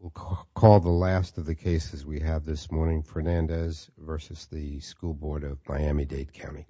We'll call the last of the cases we have this morning, Fernandez v. The School Board of Miami-Dade County. We'll call the last of the cases we have this morning, Fernandez v. The School Board of Miami-Dade County.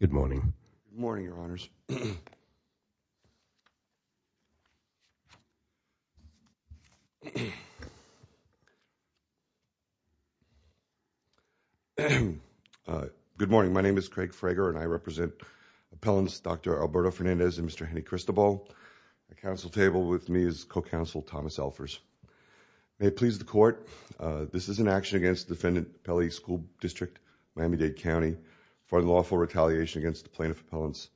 Good morning. Good morning, Your Honors. Good morning, my name is Craig Frager and I represent appellants Dr. Alberto Fernandez and Mr. Henny Cristobal. The council table with me is co-counsel Thomas Elfers. May it please the court, this is an action against the defendant Pelley School District, Miami-Dade County for unlawful retaliation against the plaintiff appellants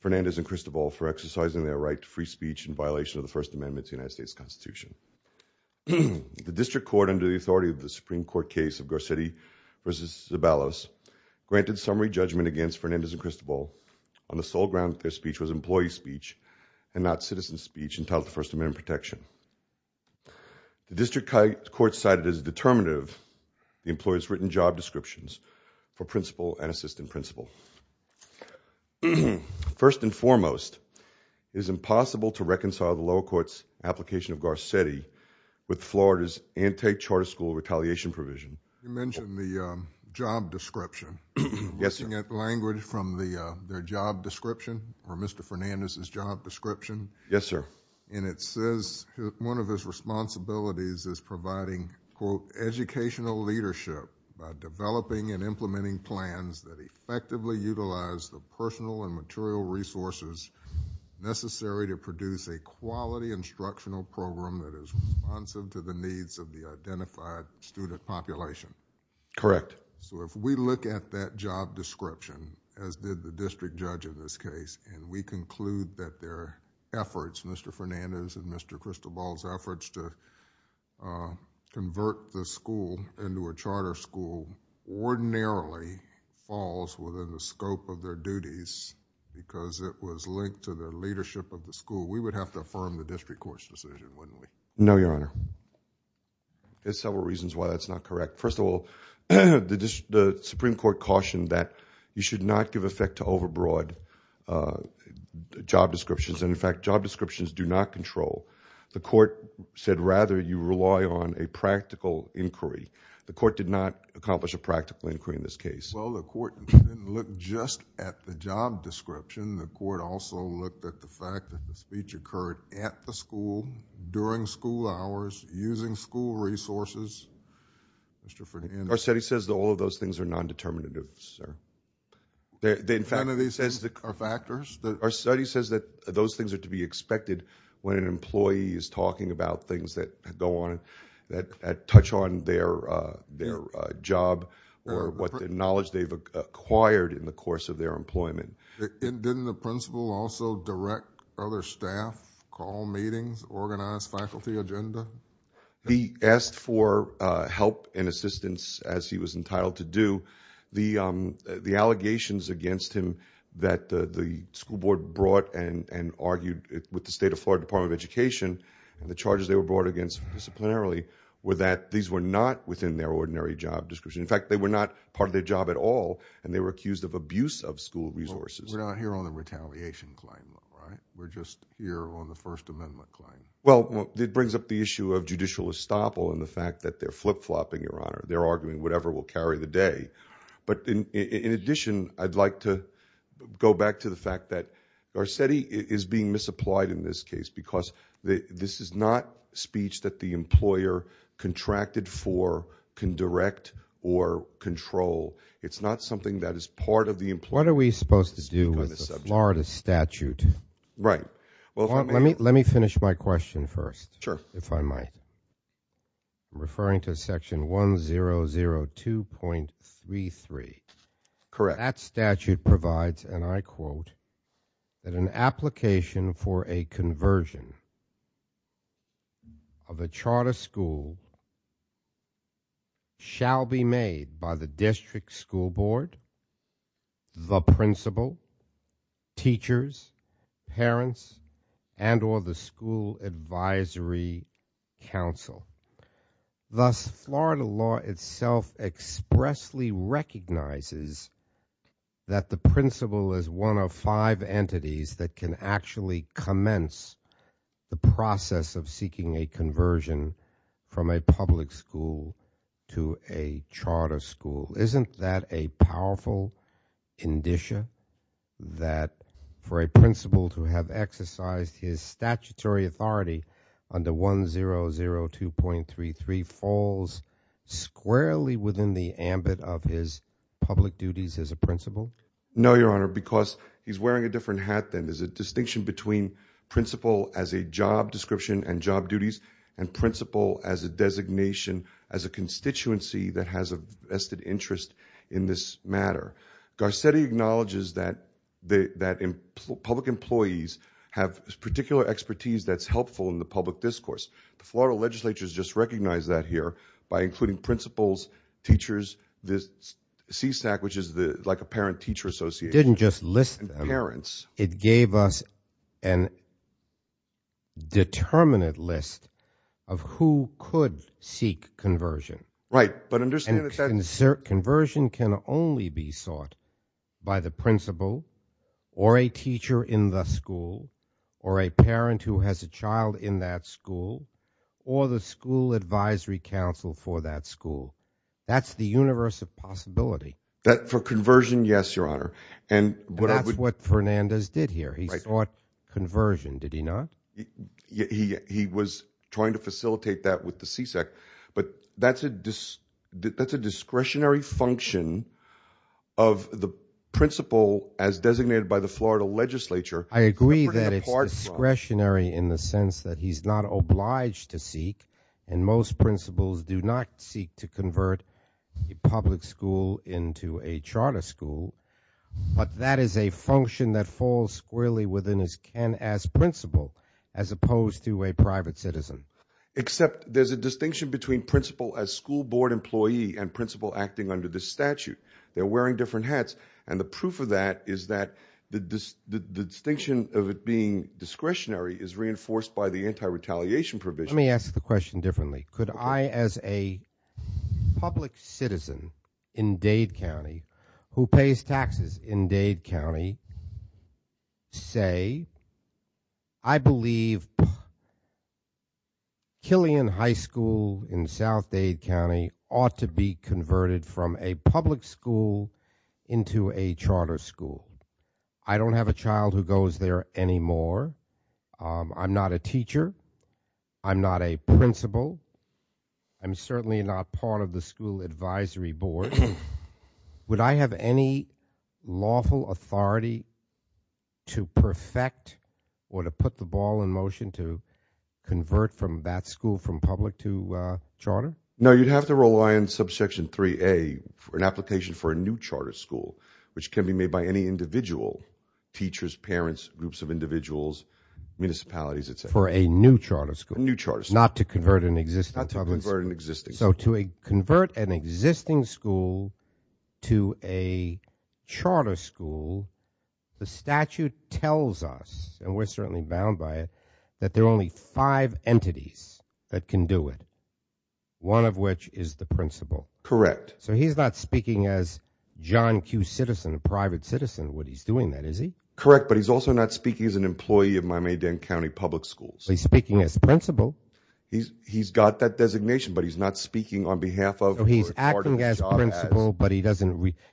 Fernandez and Cristobal for exercising their right to free speech in violation of the First Amendment to the United States Constitution. The district court under the authority of the Supreme Court case of Garcetti v. Zabalos granted summary judgment against Fernandez and Cristobal on the sole ground that their speech was employee speech and not citizen protection. The district court cited as determinative the employee's written job descriptions for principal and assistant principal. First and foremost, it is impossible to reconcile the lower court's application of Garcetti with Florida's anti-charter school retaliation provision. You mentioned the job description. Yes, sir. Looking at language from their job description. Yes, sir. It says one of his responsibilities is providing, quote, educational leadership by developing and implementing plans that effectively utilize the personal and material resources necessary to produce a quality instructional program that is responsive to the needs of the identified student population. Correct. If we look at that job description as did the district judge in this case and we conclude that their efforts, Mr. Fernandez and Mr. Cristobal's efforts to convert the school into a charter school ordinarily falls within the scope of their duties because it was linked to their leadership of the school, we would have to affirm the district court's decision, wouldn't we? No, Your Honor. There's several reasons why that's not correct. First of all, the Supreme Court cautioned that you should not give effect to overbroad job descriptions and, in fact, job descriptions do not control. The court said rather you rely on a practical inquiry. The court did not accomplish a practical inquiry in this case. Well, the court didn't look just at the job description. The court also looked at the fact that the speech occurred at the school, during school hours, using school resources. Mr. Fernandez. Garcetti says that all of those things are non-determinatives, sir. None of these are factors? Garcetti says that those things are to be expected when an employee is talking about things that go on, that touch on their job or what knowledge they've acquired in the course of their employment. Didn't the principal also direct other staff, call meetings, organize faculty agenda? He asked for help and assistance as he was entitled to do. The allegations against him that the school board brought and argued with the State of Florida Department of Education, and the charges they were brought against disciplinarily, were that these were not within their ordinary job description. In fact, they were not part of their job at all and they were accused of abuse of school resources. We're not here on the retaliation claim, though, right? We're just here on the First Amendment claim. Well, it brings up the issue of judicial estoppel and the fact that they're flip-flopping, Your Honor, today. But in addition, I'd like to go back to the fact that Garcetti is being misapplied in this case because this is not speech that the employer contracted for, can direct, or control. It's not something that is part of the employer's view of the subject. What are we supposed to do with the Florida statute? Right. Well, if I may. Let me finish my question first, if I might. I'm referring to section 1002.33. Correct. That statute provides, and I quote, that an application for a conversion of a charter school shall be made by the district school board, the principal, teachers, parents, and or the school advisory council. Thus, Florida law itself expressly recognizes that the principal is one of five entities that can actually commence the process of seeking a conversion from a public school to a charter school. Isn't that a powerful indicia that for a principal to have exercised his statutory authority under 1002.33 falls squarely within the ambit of his public duties as a principal? No, Your Honor, because he's wearing a different hat then. There's a distinction between principal as a job description and job duties and principal as a designation as a constituency that has a vested interest in this matter. Garcetti acknowledges that public employees have particular expertise that's helpful in the public discourse. The Florida legislature has just recognized that here by including principals, teachers, the CSAC, which is like a parent teacher association. It didn't just list them. Parents. It gave us a determinate list of who could seek conversion. Right, but understand that that... And conversion can only be sought by the principal or a teacher in the school or a parent who has a child in that school or the school advisory council for that school. That's the universe of possibility. That for conversion, yes, Your Honor. And what I would... That's what Fernandez did here. He sought conversion, did he not? He was trying to facilitate that with the CSAC, but that's a discretionary function of the principal as designated by the Florida legislature. I agree that it's discretionary in the sense that he's not obliged to seek and most principals do not seek to convert a public school into a charter school, but that is a function that falls squarely within his can-ask principle as opposed to a private citizen. Except there's a distinction between principal as school board employee and principal acting under this statute. They're wearing different hats and the proof of that is that the distinction of it being discretionary is reinforced by the anti-retaliation provision. Let me ask the question differently. Could I as a public citizen in Dade County who pays taxes in Dade County say, I believe... Killian High School in South Dade County ought to be converted from a public school into a charter school. I don't have a child who goes there anymore. I'm not a teacher. I'm not a principal. I'm certainly not part of the school advisory board. Would I have any lawful authority to perfect or to put the ball in motion to convert from a charter school to a public school? No, you'd have to rely on subsection 3A for an application for a new charter school, which can be made by any individual, teachers, parents, groups of individuals, municipalities, etc. For a new charter school? New charter school. Not to convert an existing public school? Not to convert an existing school. So to convert an existing school to a charter school, the statute tells us, and we're certainly bound by it, that there are only five entities that can do it, one of which is the principal. Correct. So he's not speaking as John Q. Citizen, a private citizen, when he's doing that, is he? Correct, but he's also not speaking as an employee of Miami-Dade County Public Schools. So he's speaking as principal. He's got that designation, but he's not speaking on behalf of or part of the charter as... So he's acting as principal, but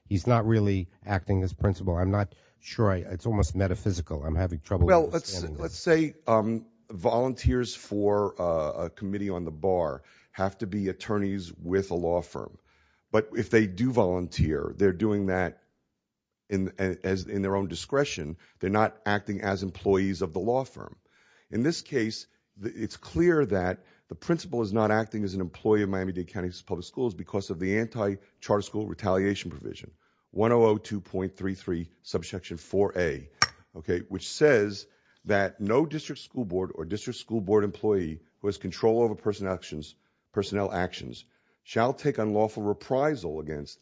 he's not really acting as principal. I'm not sure. It's almost metaphysical. I'm having trouble understanding this. Well, let's say volunteers for a committee on the bar have to be attorneys with a law firm, but if they do volunteer, they're doing that in their own discretion. They're not acting as employees of the law firm. In this case, it's clear that the principal is not acting as an employee of Miami-Dade County Public Schools because of the anti-charter school retaliation provision, 1002.33, subsection 4A, which says that no district school board or district school board employee who has control over personnel actions shall take unlawful reprisal against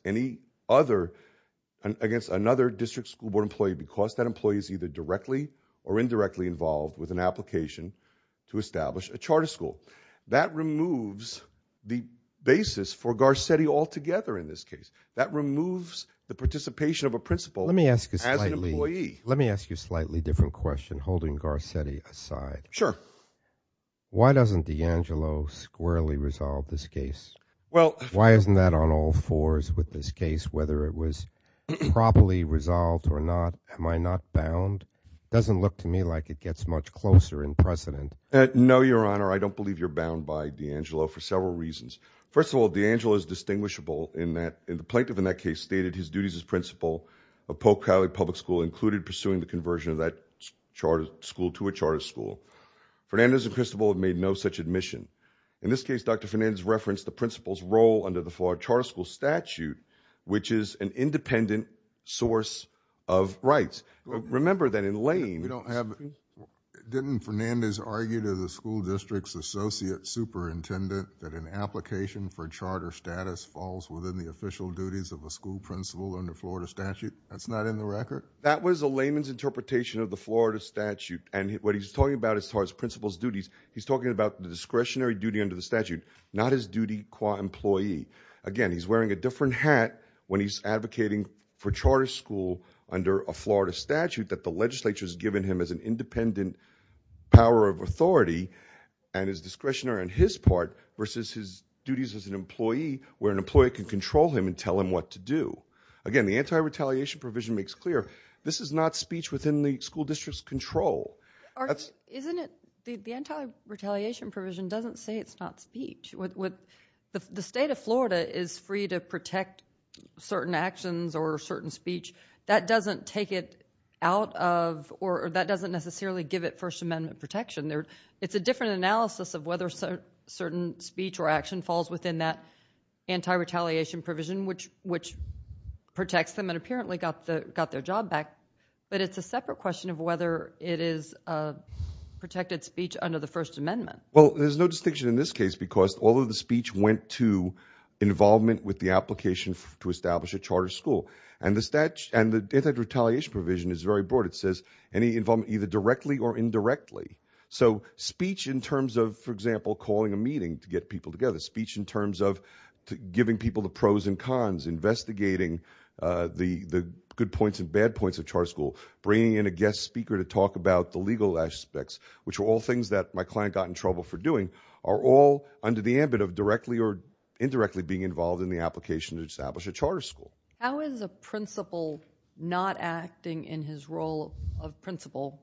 another district school board employee because that employee is either directly or indirectly involved with an application to establish a charter school. That removes the basis for Garcetti altogether in this case. That removes the participation of a principal as an employee. Let me ask you a slightly different question, holding Garcetti aside. Sure. Why doesn't DeAngelo squarely resolve this case? Why isn't that on all fours with this case, whether it was properly resolved or not? Am I not bound? It doesn't look to me like it gets much closer in precedent. No, Your Honor. I don't believe you're bound by DeAngelo for several reasons. First of all, DeAngelo is distinguishable in that the plaintiff in that case stated his duties as principal of Polk County Public School included pursuing the conversion of that school to a charter school. Fernandez and Cristobal have made no such admission. In this case, Dr. Fernandez referenced the principal's role under the Florida Charter School statute, which is an independent source of rights. Remember that in Lane... Didn't Fernandez argue to the school district's associate superintendent that an application for charter status falls within the official duties of a school principal under Florida statute? That's not in the record? That was a layman's interpretation of the Florida statute. And what he's talking about as far as principal's duties, he's talking about the discretionary duty under the statute, not his duty qua employee. Again, he's wearing a different hat when he's advocating for charter school under a Florida statute that the legislature has given him as an independent power of authority and is discretionary on his part versus his duties as an employee where an employee can control him and tell him what to do. Again, the anti-retaliation provision makes clear this is not speech within the school district's control. The anti-retaliation provision doesn't say it's not speech. The state of Florida is free to protect certain actions or certain speech. That doesn't take it out of or that doesn't necessarily give it First Amendment protection. It's a different analysis of whether certain speech or action falls within that anti-retaliation provision, which protects them and apparently got their job back. But it's a separate question of whether it is protected speech under the First Amendment. Well, there's no distinction in this case because all of the speech went to involvement with the application to establish a charter school. And the anti-retaliation provision is very broad. It says any involvement either directly or indirectly. So speech in terms of, for example, calling a meeting to get people together, speech in terms of giving people the pros and cons, investigating the good points and bad points of charter school, bringing in a guest speaker to talk about the legal aspects, which were all things that my client got in trouble for doing, are all under the ambit of directly or indirectly being involved in the application to establish a charter school. How is a principal not acting in his role of principal,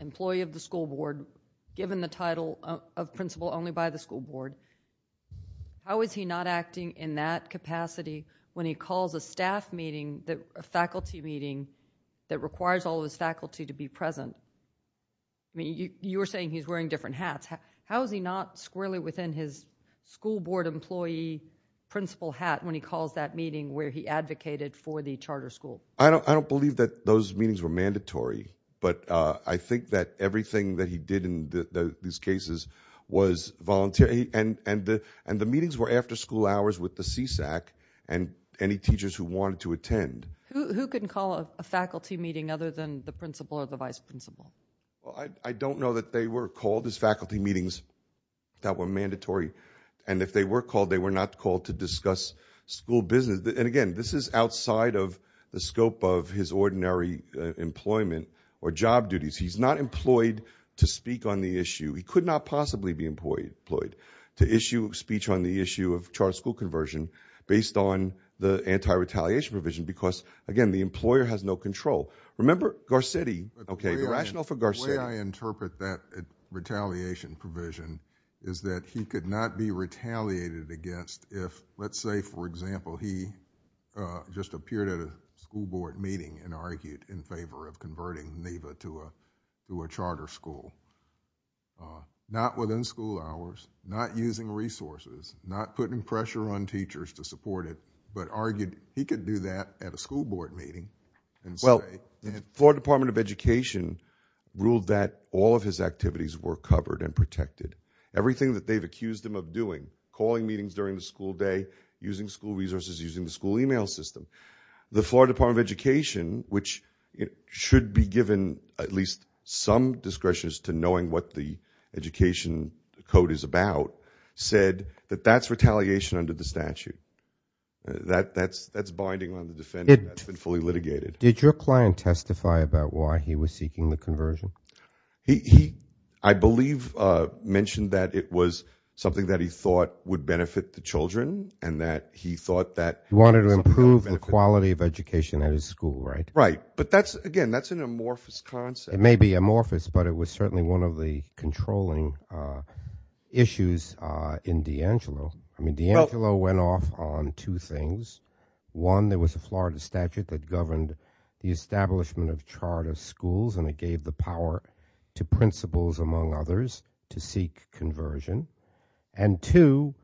employee of the school board given the title of principal only by the school board? How is he not acting in that capacity when he calls a staff meeting, a faculty meeting, that requires all of his faculty to be present? I mean, you were saying he's wearing different hats. How is he not squarely within his school board employee principal hat when he calls that meeting where he advocated for the charter school? I don't believe that those meetings were mandatory. But I think that everything that he did in these cases was voluntary. And the meetings were after school hours with the CSAC and any teachers who wanted to attend. Who can call a faculty meeting other than the principal or the vice principal? I don't know that they were called as faculty meetings that were mandatory. And if they were called, they were not called to discuss school business. And again, this is outside of the scope of his ordinary employment or job duties. He's not employed to speak on the issue. He could not possibly be employed to issue a speech on the issue of charter school conversion based on the anti-retaliation provision because, again, the employer has no control. Remember Garcetti, OK, the rationale for Garcetti. The way I interpret that retaliation provision is that he could not be retaliated against if, let's say, for example, he just appeared at a school board meeting and argued in favor of converting NEVA to a to a charter school. Not within school hours, not using resources, not putting pressure on teachers to support it, but argued he could do that at a school board meeting. Well, the Florida Department of Education ruled that all of his activities were covered and protected. Everything that they've accused him of doing, calling meetings during the school day, using school resources, using the school email system. The Florida Department of Education, which should be given at least some discretion as to knowing what the education code is about, said that that's retaliation under the statute. That's binding on the defendant and that's been fully litigated. Did your client testify about why he was seeking the conversion? He, I believe, mentioned that it was something that he thought would benefit the children and that he thought that... He wanted to improve the quality of education at his school, right? Right. But that's, again, that's an amorphous concept. It may be amorphous, but it was certainly one of the controlling issues in D'Angelo. I mean, D'Angelo went off on two things. One, there was a Florida statute that governed the establishment of charter schools and it gave the power to principals, among others, to seek conversion. And two,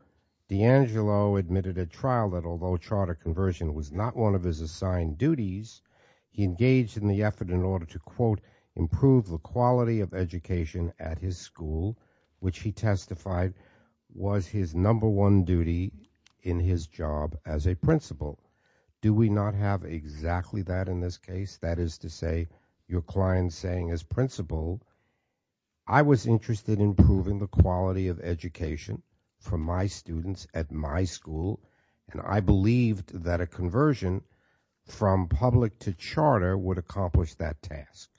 D'Angelo admitted at trial that although charter conversion was not one of his assigned duties, he engaged in the effort in order to, quote, improve the quality of education at his school, which he testified was his number one duty in his job as a principal. Do we not have exactly that in this case? That is to say, your client saying as principal, I was interested in improving the quality of education for my students at my school and I believed that a conversion from public to charter would accomplish that task.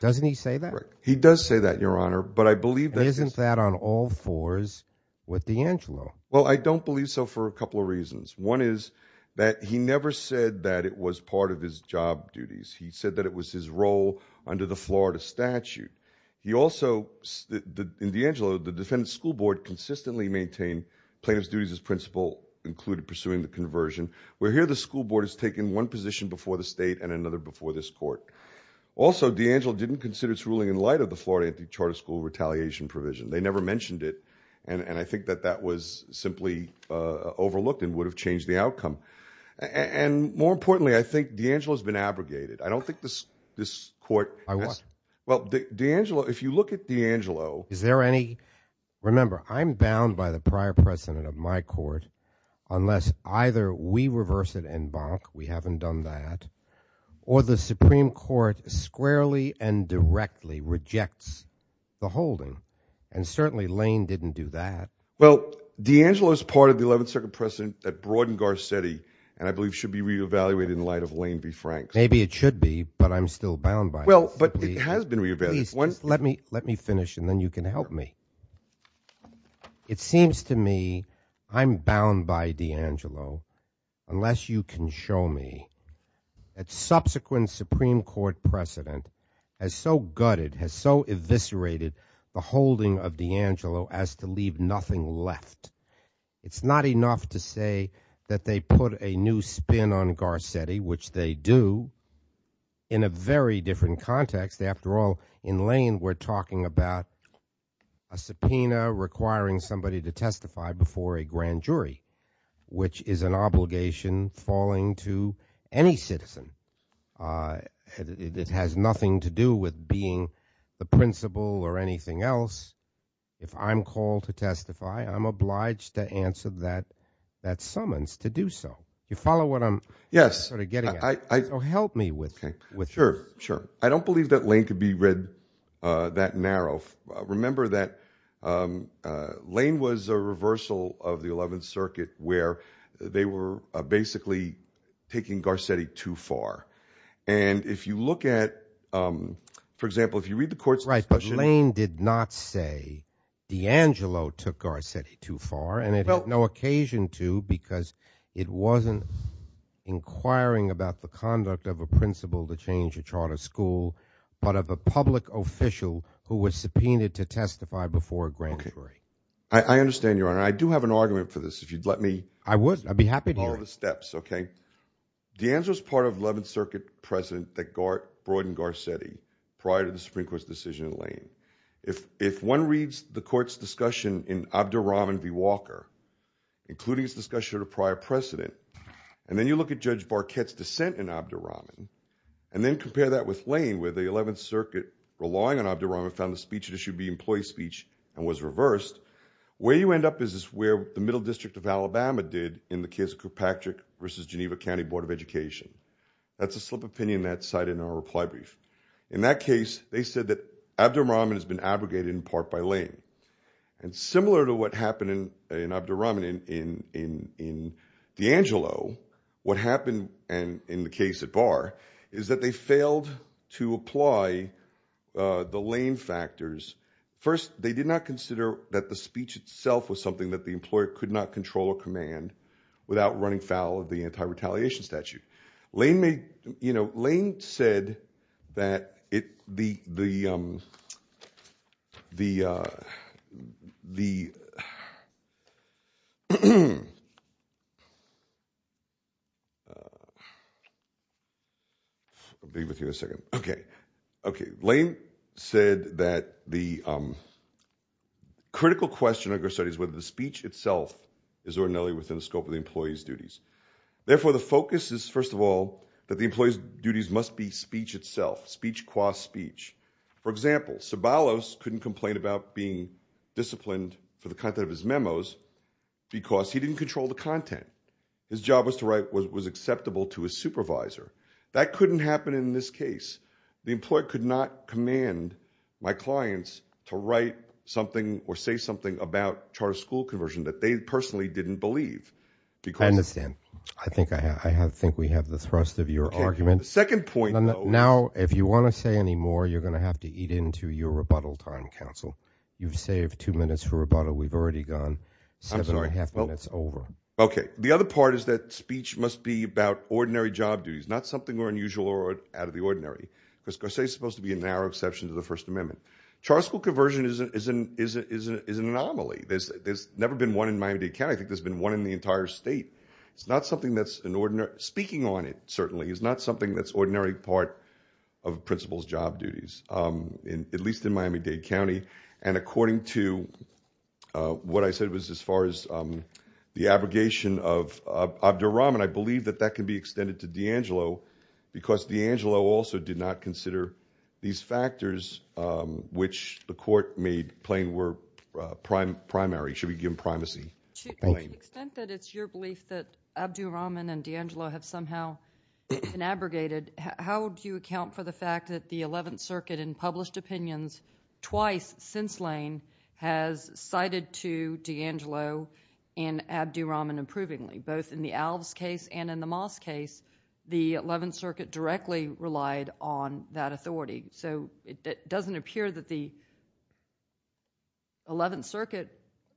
Doesn't he say that? He does say that, your honor, but I believe that... Isn't that on all fours with D'Angelo? Well, I don't believe so for a couple of reasons. One is that he never said that it was part of his job duties. He said that it was his role under the Florida statute. He also, in D'Angelo, the defendant's school board consistently maintained plaintiff's duties as principal, included pursuing the conversion. Where here, the school board has taken one position before the state and another before this court. Also, D'Angelo didn't consider its ruling in light of the Florida charter school retaliation provision. They never mentioned it, and I think that that was simply overlooked and would have changed the outcome. And more importantly, I think D'Angelo's been abrogated. I don't think this court... I what? Well, D'Angelo, if you look at D'Angelo... Is there any... Remember, I'm bound by the prior precedent of my court unless either we reverse it en banc, we haven't done that, or the Supreme Court squarely and directly rejects the holding, and certainly Lane didn't do that. Well, D'Angelo is part of the 11th Circuit precedent that broadened Garcetti, and I believe should be re-evaluated in light of Lane v. Franks. Maybe it should be, but I'm still bound by it. Well, but it has been re-evaluated. Please, just let me finish, and then you can help me. It seems to me I'm bound by D'Angelo unless you can show me that subsequent Supreme Court precedent has so gutted, has so eviscerated the holding of D'Angelo as to leave nothing left. It's not enough to say that they put a new spin on Garcetti, which they do, in a very different context. After all, in Lane we're talking about a subpoena requiring somebody to testify before a grand jury, which is an obligation falling to any citizen. It has nothing to do with being the principal or anything else. If I'm called to testify, I'm obliged to answer that summons to do so. You follow what I'm sort of getting at? Yes. So help me with this. Sure, sure. I don't believe that Lane could be read that narrow. Remember that Lane was a reversal of the Eleventh Circuit where they were basically taking Garcetti too far. And if you look at, for example, if you read the court's discussion... Right, but Lane did not say D'Angelo took Garcetti too far, and it had no occasion to because it wasn't inquiring about the conduct of a principal to change a charter school, but of a public official who was subpoenaed to testify before a grand jury. I understand, Your Honor. I do have an argument for this, if you'd let me... I would. I'd be happy to hear it. ...follow the steps, okay? D'Angelo's part of Eleventh Circuit precedent that broadened Garcetti prior to the Supreme Court's decision in Lane. If one reads the court's discussion in Abderrahman v. Walker, including its discussion of the prior precedent, and then you look at Judge Barkett's dissent in Abderrahman, and then compare that with Lane where the Eleventh Circuit, relying on Abderrahman, found the speech to be employee speech and was reversed, where you end up is where the Middle District of Alabama did in the case of Kirkpatrick v. Geneva County Board of Education. That's a slip of the penny on that side in our reply brief. In that case, they said that Abderrahman has been abrogated in part by Lane. And similar to what happened in Abderrahman in D'Angelo, what happened in the case at itself was something that the employer could not control or command without running foul of the Anti-Retaliation Statute. Lane said that the... I'll be with you in a second. Okay. Lane said that the critical question under study is whether the speech itself is ordinarily within the scope of the employee's duties. Therefore, the focus is, first of all, that the employee's duties must be speech itself, speech qua speech. For example, Sobalos couldn't complain about being disciplined for the content of his memos because he didn't control the content. His job was to write what was acceptable to his supervisor. That couldn't happen in this case. The employer could not command my clients to write something or say something about charter school conversion that they personally didn't believe because... I understand. I think we have the thrust of your argument. Okay. The second point, though... Now, if you want to say any more, you're going to have to eat into your rebuttal time, counsel. You've saved two minutes for rebuttal. We've already gone seven and a half minutes over. I'm sorry. Okay. The other part is that speech must be about ordinary job duties, not something more unusual or out of the ordinary, because Garcetti's supposed to be a narrow exception to the First Amendment. Charter school conversion is an anomaly. There's never been one in Miami Dade County. I think there's been one in the entire state. Speaking on it, certainly, is not something that's ordinary part of a principal's job duties, at least in Miami Dade County. According to what I said was as far as the abrogation of Abdur Rahman, I believe that that could be extended to D'Angelo, because D'Angelo also did not consider these factors which the court made Plainware primary. Should we give him primacy? To the extent that it's your belief that Abdur Rahman and D'Angelo have somehow been abrogated, how do you account for the fact that the Eleventh Circuit, in published opinions twice since Lane, has cited to D'Angelo and Abdur Rahman approvingly, both in the Alves case and in the Moss case, the Eleventh Circuit directly relied on that authority? It doesn't appear that the Eleventh Circuit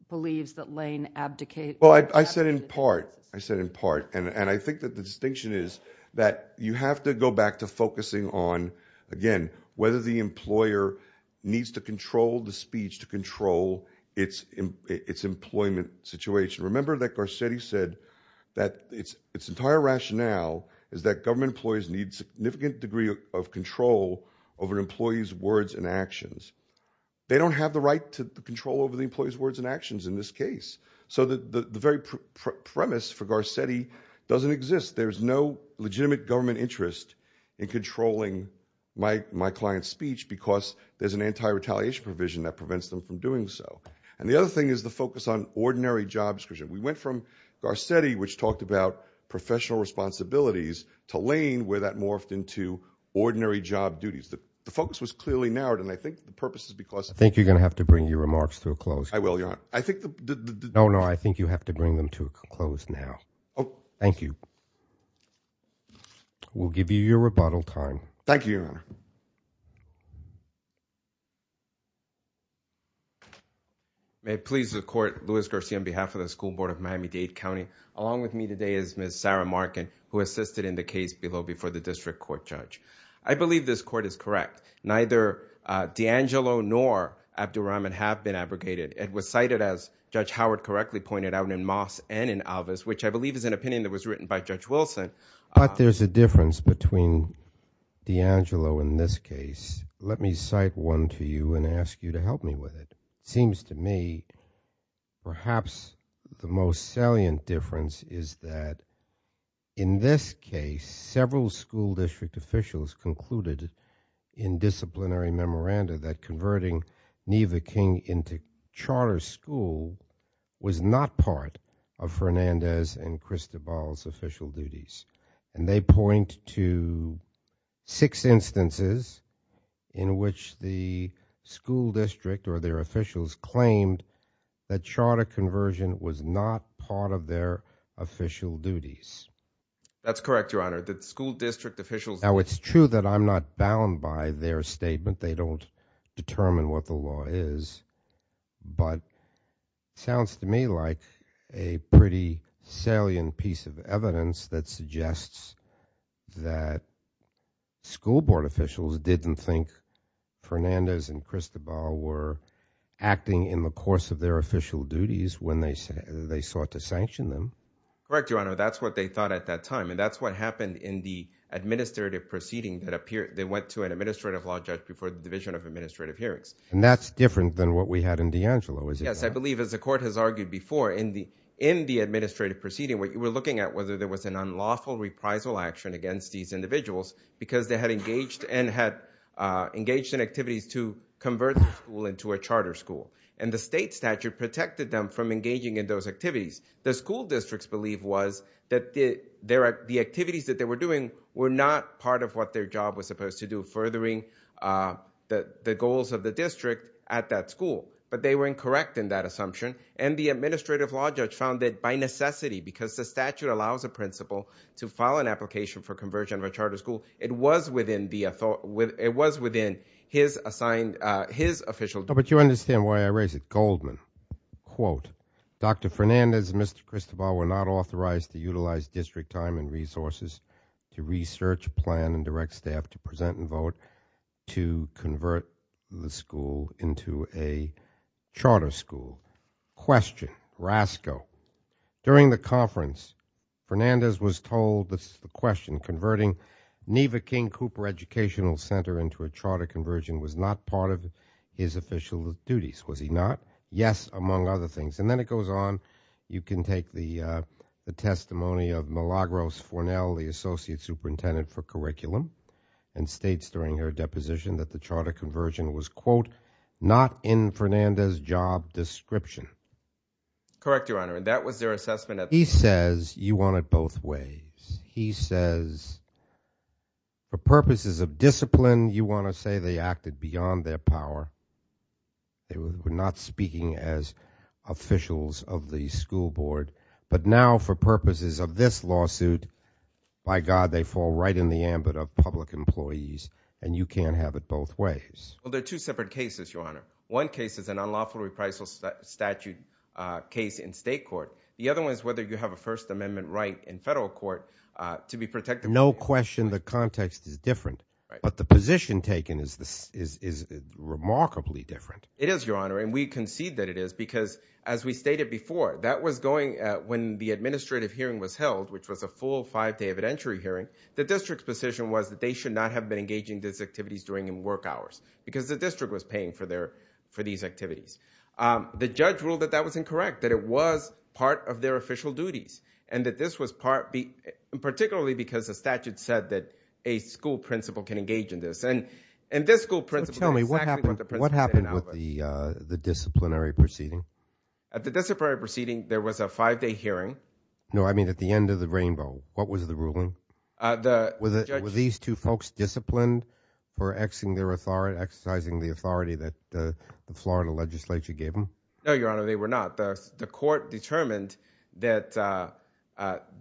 believes that Lane abdicated. I said in part. I said in part. I think that the distinction is that you have to go back to focusing on, again, whether the employer needs to control the speech to control its employment situation. Remember that Garcetti said that its entire rationale is that government employees need significant degree of control over an employee's words and actions. They don't have the right to control over the employee's words and actions in this case. So the very premise for Garcetti doesn't exist. There's no legitimate government interest in controlling my client's speech, because there's an anti-retaliation provision that focuses on ordinary jobs. We went from Garcetti, which talked about professional responsibilities, to Lane, where that morphed into ordinary job duties. The focus was clearly narrowed, and I think the purpose is because... I think you're going to have to bring your remarks to a close. I will, Your Honor. I think the... No, no, I think you have to bring them to a close now. Thank you. We'll give you your rebuttal time. Thank you, Your Honor. May it please the court, Luis Garcetti on behalf of the School Board of Miami-Dade County. Along with me today is Ms. Sarah Markin, who assisted in the case below before the district court judge. I believe this court is correct. Neither D'Angelo nor Abdulrahman have been abrogated. It was cited, as Judge Howard correctly pointed out, in Moss and in Alvis, which I believe is an opinion that was written by D'Angelo in this case. Let me cite one to you and ask you to help me with it. It seems to me perhaps the most salient difference is that in this case, several school district officials concluded in disciplinary memoranda that converting Neva King into charter school was not part of Fernandez and Cristobal's official duties. And they point to six instances in which the school district or their officials claimed that charter conversion was not part of their official duties. That's correct, Your Honor. The school district officials... Now, it's true that I'm not bound by their opinion. It sounds to me like a pretty salient piece of evidence that suggests that school board officials didn't think Fernandez and Cristobal were acting in the course of their official duties when they sought to sanction them. Correct, Your Honor. That's what they thought at that time. And that's what happened in the administrative proceeding that appeared... They went to an administrative law judge before the Division of Administrative Hearings. And that's different than what we had in D'Angelo, is it not? Yes, I believe, as the court has argued before, in the administrative proceeding, we're looking at whether there was an unlawful reprisal action against these individuals because they had engaged and had engaged in activities to convert the school into a charter school. And the state statute protected them from engaging in those activities. The school districts believed was that the activities that they were doing were not part of what their job was supposed to do, furthering the goals of the district at that school. But they were incorrect in that assumption. And the administrative law judge found that by necessity, because the statute allows a principal to file an application for conversion of a charter school, it was within his assigned, his official... But you understand why I raise it. Goldman, quote, Dr. Fernandez and Mr. Cristobal were not authorized to utilize district time and resources to research, plan, and direct staff to present and vote to convert the school into a charter school. Question, rascal. During the conference, Fernandez was told this question, converting Neva King Cooper Educational Center into a charter conversion was not part of his official duties. Was he not? Yes, among other things. And then it goes on, you can take the testimony of Milagros Fornell, the school board, and states during her deposition that the charter conversion was, quote, not in Fernandez's job description. Correct, Your Honor. And that was their assessment. He says you want it both ways. He says, for purposes of discipline, you want to say they acted beyond their power. They were not speaking as officials of the school board. But now, for purposes of this lawsuit, by God, they fall right in the ambit of public employees, and you can't have it both ways. Well, there are two separate cases, Your Honor. One case is an unlawful reprisal statute case in state court. The other one is whether you have a First Amendment right in federal court to be protected. No question the context is different. But the position taken is remarkably different. It is, Your Honor, and we concede that it is because, as we stated before, that was going, when the administrative hearing was held, which was a full five-day evidentiary hearing, the district's position was that they should not have been engaging in these activities during work hours because the district was paying for these activities. The judge ruled that that was incorrect, that it was part of their official duties, and that this was part, particularly because the statute said that a school principal can engage in this. And this school principal did exactly what the principal did in Albuquerque. What happened with the disciplinary proceeding? At the disciplinary proceeding, there was a five-day hearing. No, I mean at the end of the rainbow. What was the ruling? Were these two folks disciplined for exercising the authority that the Florida legislature gave them? No, Your Honor, they were not. The court determined that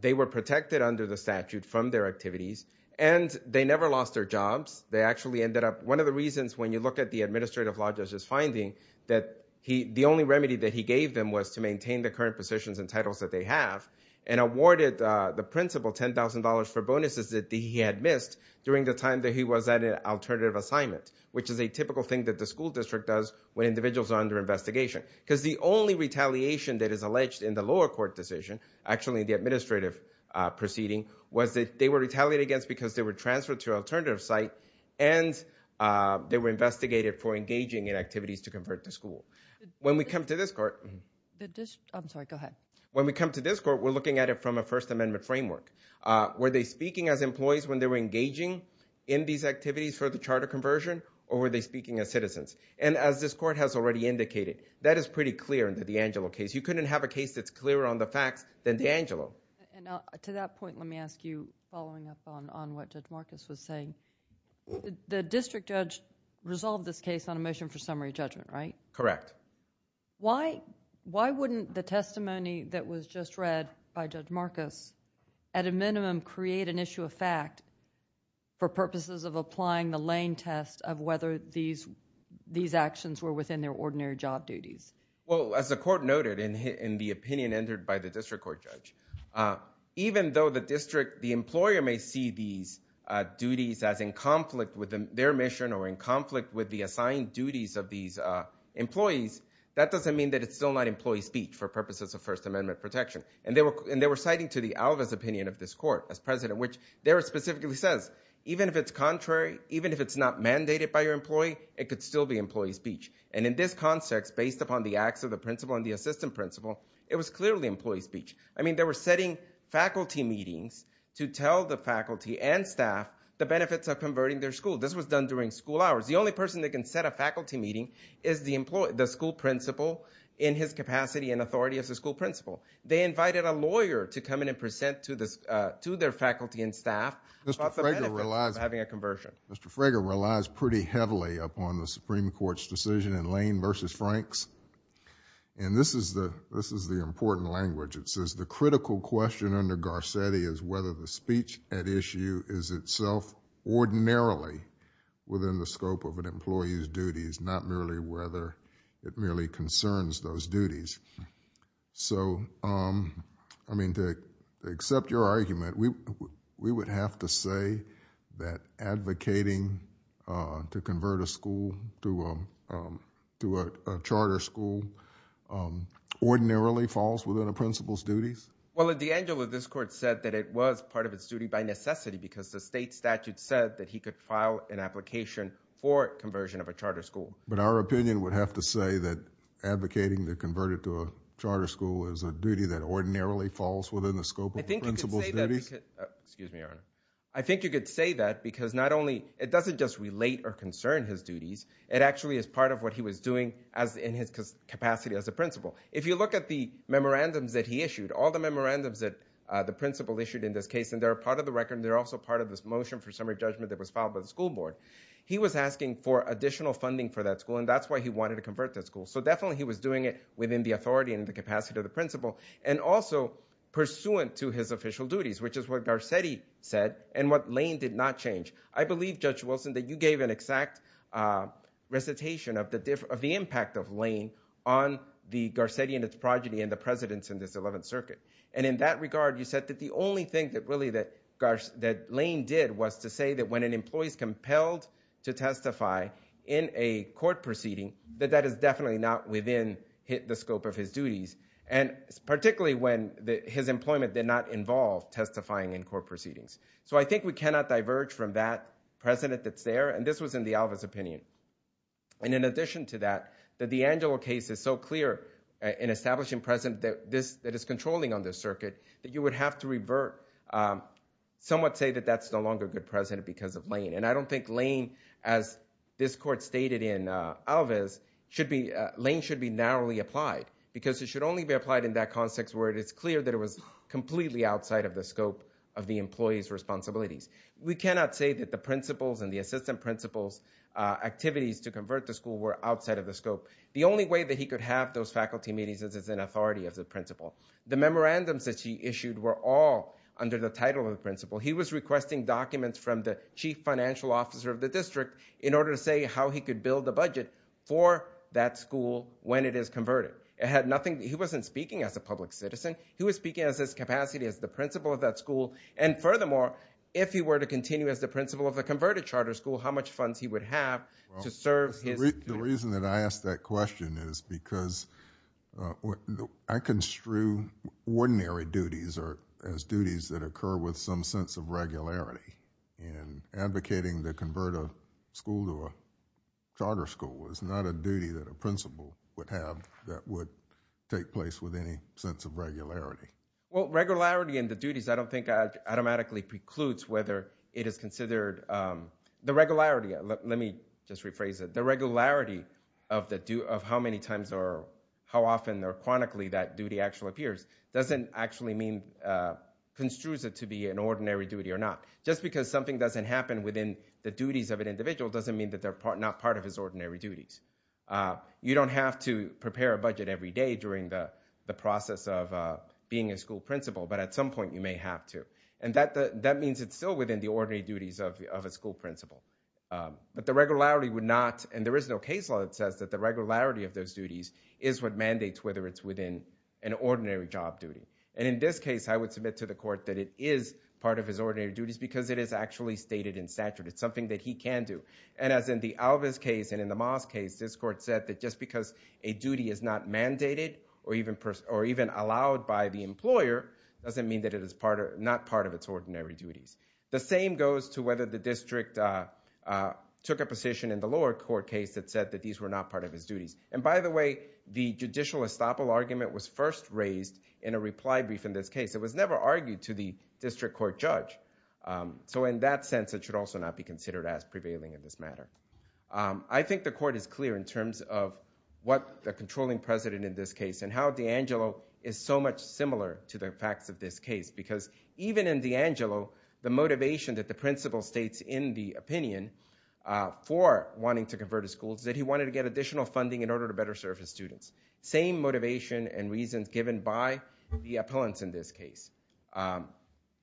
they were protected under the statute from their activities, and they never lost their jobs. They actually ended up, one of the reasons when you look at the administrative law judge's finding, that the only remedy that he gave them was to maintain the current positions and titles that they have, and awarded the principal $10,000 for bonuses that he had missed during the time that he was at an alternative assignment, which is a typical thing that the school district does when individuals are under investigation. Because the only retaliation that is alleged in the lower court decision, actually in the administrative proceeding, was that they were retaliated against because they were transferred to an alternative site, and they were investigated for engaging in activities to convert the school. When we come to this court, we're looking at it from a First Amendment framework. Were they speaking as employees when they were engaging in these activities for the charter conversion, or were they speaking as citizens? As this court has already indicated, that is pretty clear in the DeAngelo case. You couldn't have a case that's clearer on the facts than DeAngelo. To that point, let me ask you, following up on what Judge Marcus was saying, the district judge resolved this case on a motion for summary judgment, right? Correct. Why wouldn't the testimony that was just read by Judge Marcus, at a minimum, create an issue of fact for purposes of applying the Lane test of whether these actions were within their ordinary job duties? As the court noted in the opinion entered by the district court judge, even though the employer may see these duties as in conflict with their mission or in conflict with the assigned duties of these employees, that doesn't mean that it's still not employee speech for purposes of First Amendment protection. They were citing to the Alvarez opinion of this court, as president, which there it specifically says, even if it's contrary, even if it's not mandated by your employee, it could still be employee speech. In this context, based upon the acts of the principal and the assistant principal, it was clearly employee speech. I mean, they were setting faculty meetings to tell the faculty and staff the benefits of converting their school. This was done during school hours. The only person that can set a faculty meeting is the school principal in his capacity and authority as a school principal. They invited a lawyer to come in and present to their faculty and staff about the benefits of having a conversion. Mr. Frager relies pretty heavily upon the Supreme Court's decision in Lane v. Franks. And this is the important language. It says, the critical question under Garcetti is whether the speech at issue is itself ordinarily within the scope of an employee's duties, not merely whether it merely concerns those duties. So, I mean, to accept your argument, we would have to say that advocating to convert a school to a charter school ordinarily falls within a principal's duties? Well, at the end of it, this court said that it was part of its duty by necessity because the state statute said that he could file an application for conversion of a charter school. But our opinion would have to say that advocating to convert it to a charter school is a duty that ordinarily falls within the scope of his duties. Excuse me, Your Honor. I think you could say that because it doesn't just relate or concern his duties. It actually is part of what he was doing in his capacity as a principal. If you look at the memorandums that he issued, all the memorandums that the principal issued in this case, and they're part of the record, and they're also part of this motion for summary judgment that was filed by the school board, he was asking for additional funding for that school, and that's why he wanted to convert that school. So definitely he was doing it within the authority and the capacity of the principal and also pursuant to his official duties, which is what Garcetti said and what Lane did not change. I believe, Judge Wilson, that you gave an exact recitation of the impact of Lane on the Garcetti and his progeny and the presidents in this 11th Circuit. And in that regard, you said that the only thing that Lane did was to say that when an employee is compelled to testify in a court proceeding, that that is definitely not within the scope of his duties. And particularly when his employment did not involve testifying in court proceedings. So I think we cannot diverge from that precedent that's there, and this was in the Alvis opinion. And in addition to that, that the Angelo case is so clear in establishing precedent that is controlling on this circuit, that you would have to somewhat say that that's no longer a good precedent because of Lane. And I don't think Lane, as this court stated in Alvis, Lane should be narrowly applied, because it should only be applied in that context where it is clear that it was completely outside of the scope of the employee's responsibilities. We cannot say that the principals and the assistant principals' activities to convert the school were outside of the scope. The only way that he could have those faculty meetings is as an authority of the principal. The memorandums that he issued were all under the title of the principal. He was requesting documents from the chief financial officer of the district in order to say how he could build the budget for that school when it is converted. It had nothing, he wasn't speaking as a public citizen. He was speaking as his capacity as the principal of that school, and furthermore, if he were to continue as the principal of the converted charter school, how much funds he would have to serve his- The reason that I ask that question is because I construe ordinary duties as duties that occur with some sense of regularity, and advocating to convert a school to a charter school was not a principle that would take place with any sense of regularity. Well, regularity in the duties, I don't think, automatically precludes whether it is considered- The regularity, let me just rephrase it. The regularity of how many times or how often or chronically that duty actually appears doesn't actually mean, construes it to be an ordinary duty or not. Just because something doesn't happen within the duties of an individual doesn't mean they're not part of his ordinary duties. You don't have to prepare a budget every day during the process of being a school principal, but at some point you may have to. That means it's still within the ordinary duties of a school principal. But the regularity would not, and there is no case law that says that the regularity of those duties is what mandates whether it's within an ordinary job duty. In this case, I would submit to the court that it is part of his ordinary It's something that he can do. And as in the Alvis case and in the Moss case, this court said that just because a duty is not mandated or even allowed by the employer doesn't mean that it is not part of its ordinary duties. The same goes to whether the district took a position in the lower court case that said that these were not part of his duties. And by the way, the judicial estoppel argument was first raised in a reply brief in this case. It was never argued to district court judge. So in that sense, it should also not be considered as prevailing in this matter. I think the court is clear in terms of what the controlling president in this case and how DeAngelo is so much similar to the facts of this case. Because even in DeAngelo, the motivation that the principal states in the opinion for wanting to convert a school is that he wanted to get additional funding in order to better serve his students. Same motivation and reasons given by the appellants in this case.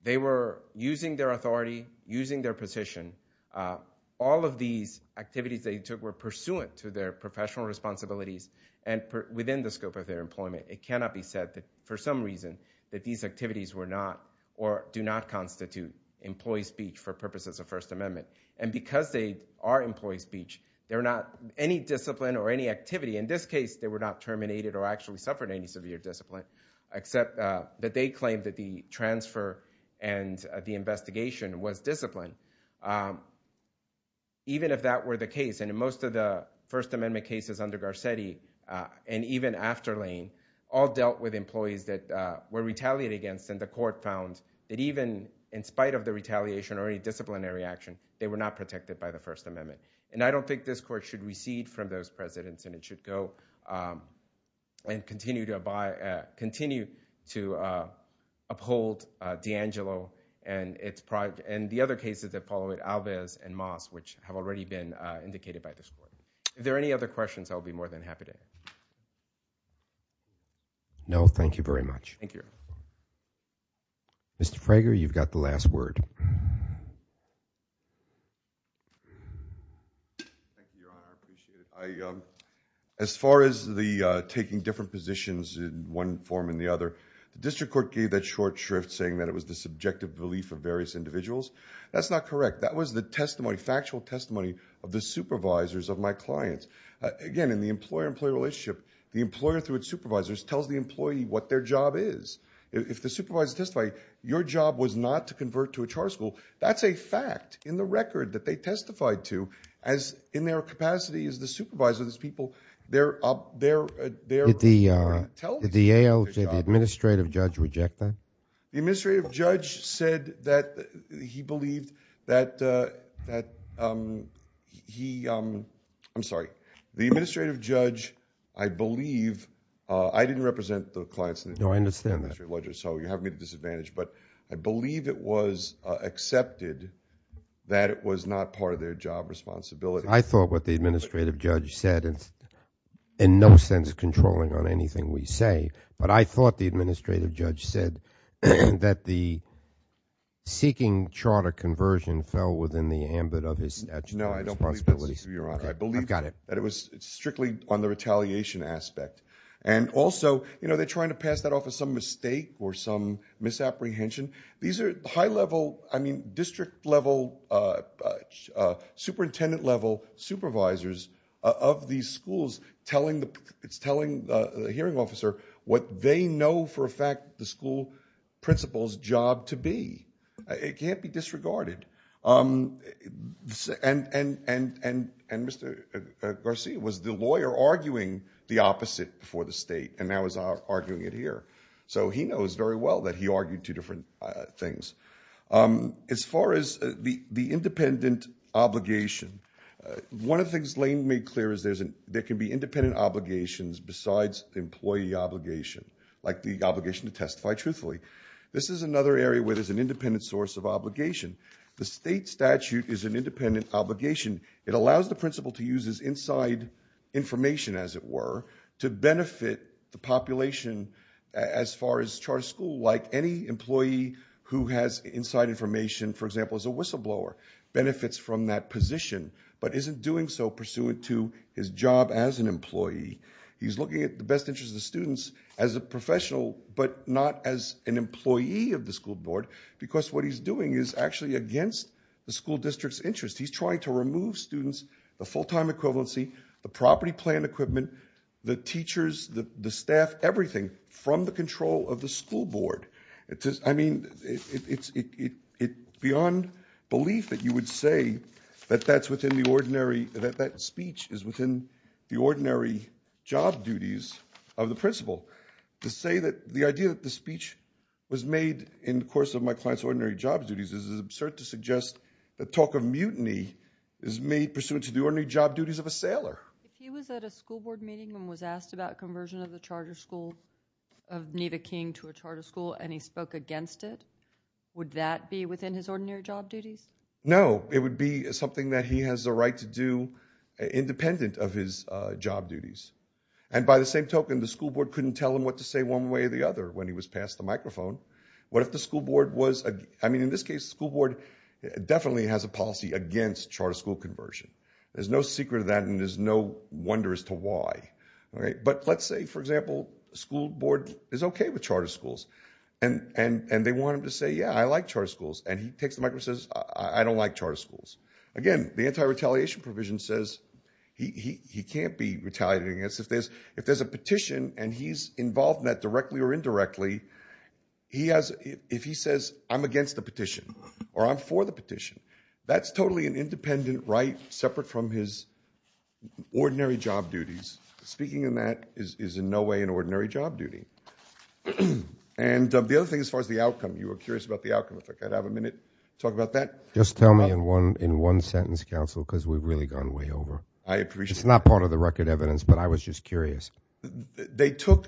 They were using their authority, using their position. All of these activities they took were pursuant to their professional responsibilities and within the scope of their employment. It cannot be said that for some reason that these activities were not or do not constitute employee speech for purposes of First Amendment. And because they are employee speech, they're not any discipline or any activity. In this case, they were not terminated or actually suffered any severe discipline except that they claimed that the transfer and the investigation was disciplined. Even if that were the case, and in most of the First Amendment cases under Garcetti and even after Lane, all dealt with employees that were retaliated against and the court found that even in spite of the retaliation or any disciplinary action, they were not protected by the First Amendment. And I don't think this court should recede from those presidents and it should go and continue to abide, continue to uphold D'Angelo and the other cases that followed, Alves and Moss, which have already been indicated by this court. If there are any other questions, I'll be more than happy to. No, thank you very much. Thank you. Mr. Frager, you've got the last word. Thank you, Your Honor. I appreciate it. As far as the taking different positions in one form and the other, the district court gave that short shrift saying that it was the subjective belief of various individuals. That's not correct. That was the testimony, factual testimony of the supervisors of my clients. Again, in the employer-employee relationship, the employer through its supervisors tells the employee what their job is. If the supervisor testified, your job was not to convert to a char school. That's a fact in the record that they testified to as in their capacity as the supervisor, these people, they're up there. Did the ALJ, the administrative judge, reject that? The administrative judge said that he believed that he, I'm sorry, the administrative judge, I believe, I didn't represent the clients. No, I understand that. So you have me at a disadvantage, but I believe it was accepted that it was not part of their job responsibility. I thought what the administrative judge said is in no sense controlling on anything we say, but I thought the administrative judge said that the seeking charter conversion fell within the ambit of his statute of responsibilities. No, I don't believe that, Your Honor. I believe that it was strictly on the retaliation aspect. And also, you know, they're trying to pass that off as some mistake or some misapprehension. These are high-level, I mean, district-level, superintendent-level supervisors of these schools telling the, it's telling the hearing officer what they know for a fact the school principal's job to be. It can't be disregarded. And Mr. Garcia was the lawyer arguing the opposite for the state and now is arguing it here. So he knows very well that he argued two different things. As far as the independent obligation, one of the things Lane made clear is there can be independent obligations besides employee obligation, like the obligation to testify truthfully. This is another area where there's an independent source of obligation. The state statute is an independent obligation. It allows the principal to use his inside information, as it were, to benefit the population as far as charter school, like any employee who has inside information, for example, as a whistleblower benefits from that position, but isn't doing so pursuant to his job as an employee. He's looking at the best interest of students as a professional, but not as an employee of the school board, because what he's doing is actually against the school district's interest. He's trying to remove students, the full-time equivalency, the property plan equipment, the teachers, the staff, everything from the control of the school board. I mean, it's beyond belief that you would say that that's within the ordinary, that that speech is within the ordinary job duties of the principal. To say that the idea that the speech was made in the course of my client's ordinary job duties is absurd to a sailor. If he was at a school board meeting and was asked about conversion of the charter school of Neva King to a charter school and he spoke against it, would that be within his ordinary job duties? No, it would be something that he has the right to do independent of his job duties, and by the same token, the school board couldn't tell him what to say one way or the other when he was passed the microphone. What if the school board was, I mean, in this case, the school board definitely has a policy against charter school conversion. There's no secret to that and there's no wonder as to why. But let's say, for example, the school board is okay with charter schools and they want him to say, yeah, I like charter schools, and he takes the microphone and says, I don't like charter schools. Again, the anti-retaliation provision says he can't be retaliated against. If there's a petition and he's involved in that directly or indirectly, if he says, I'm against the petition or I'm for the petition, that's totally an independent right separate from his ordinary job duties. Speaking of that is in no way an ordinary job duty. And the other thing as far as the outcome, you were curious about the outcome. In fact, I'd have a minute to talk about that. Just tell me in one sentence, counsel, because we've really gone way over. I appreciate it. It's not part of the record evidence, but I was just asking. The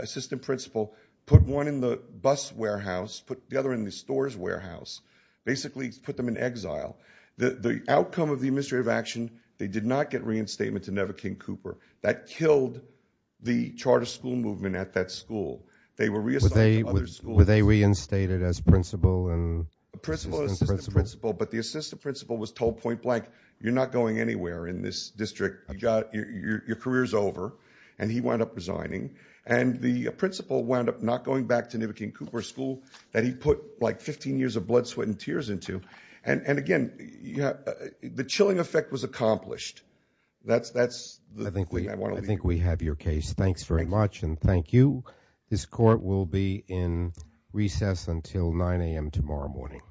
assistant principal put one in the bus warehouse, put the other in the stores warehouse, basically put them in exile. The outcome of the administrative action, they did not get reinstatement to Neva King Cooper. That killed the charter school movement at that school. They were reassigned to other schools. Were they reinstated as principal and assistant principal? But the assistant principal was told point blank, you're not going anywhere in this district. Your career is over. And he wound up resigning. And the principal wound up not going back to Neva King Cooper school that he put like 15 years of blood, sweat, and tears into. And again, the chilling effect was accomplished. That's the thing I want to leave you with. I think we have your case. Thanks very much. And thank you. This court will be in recess until 9 a.m. tomorrow morning.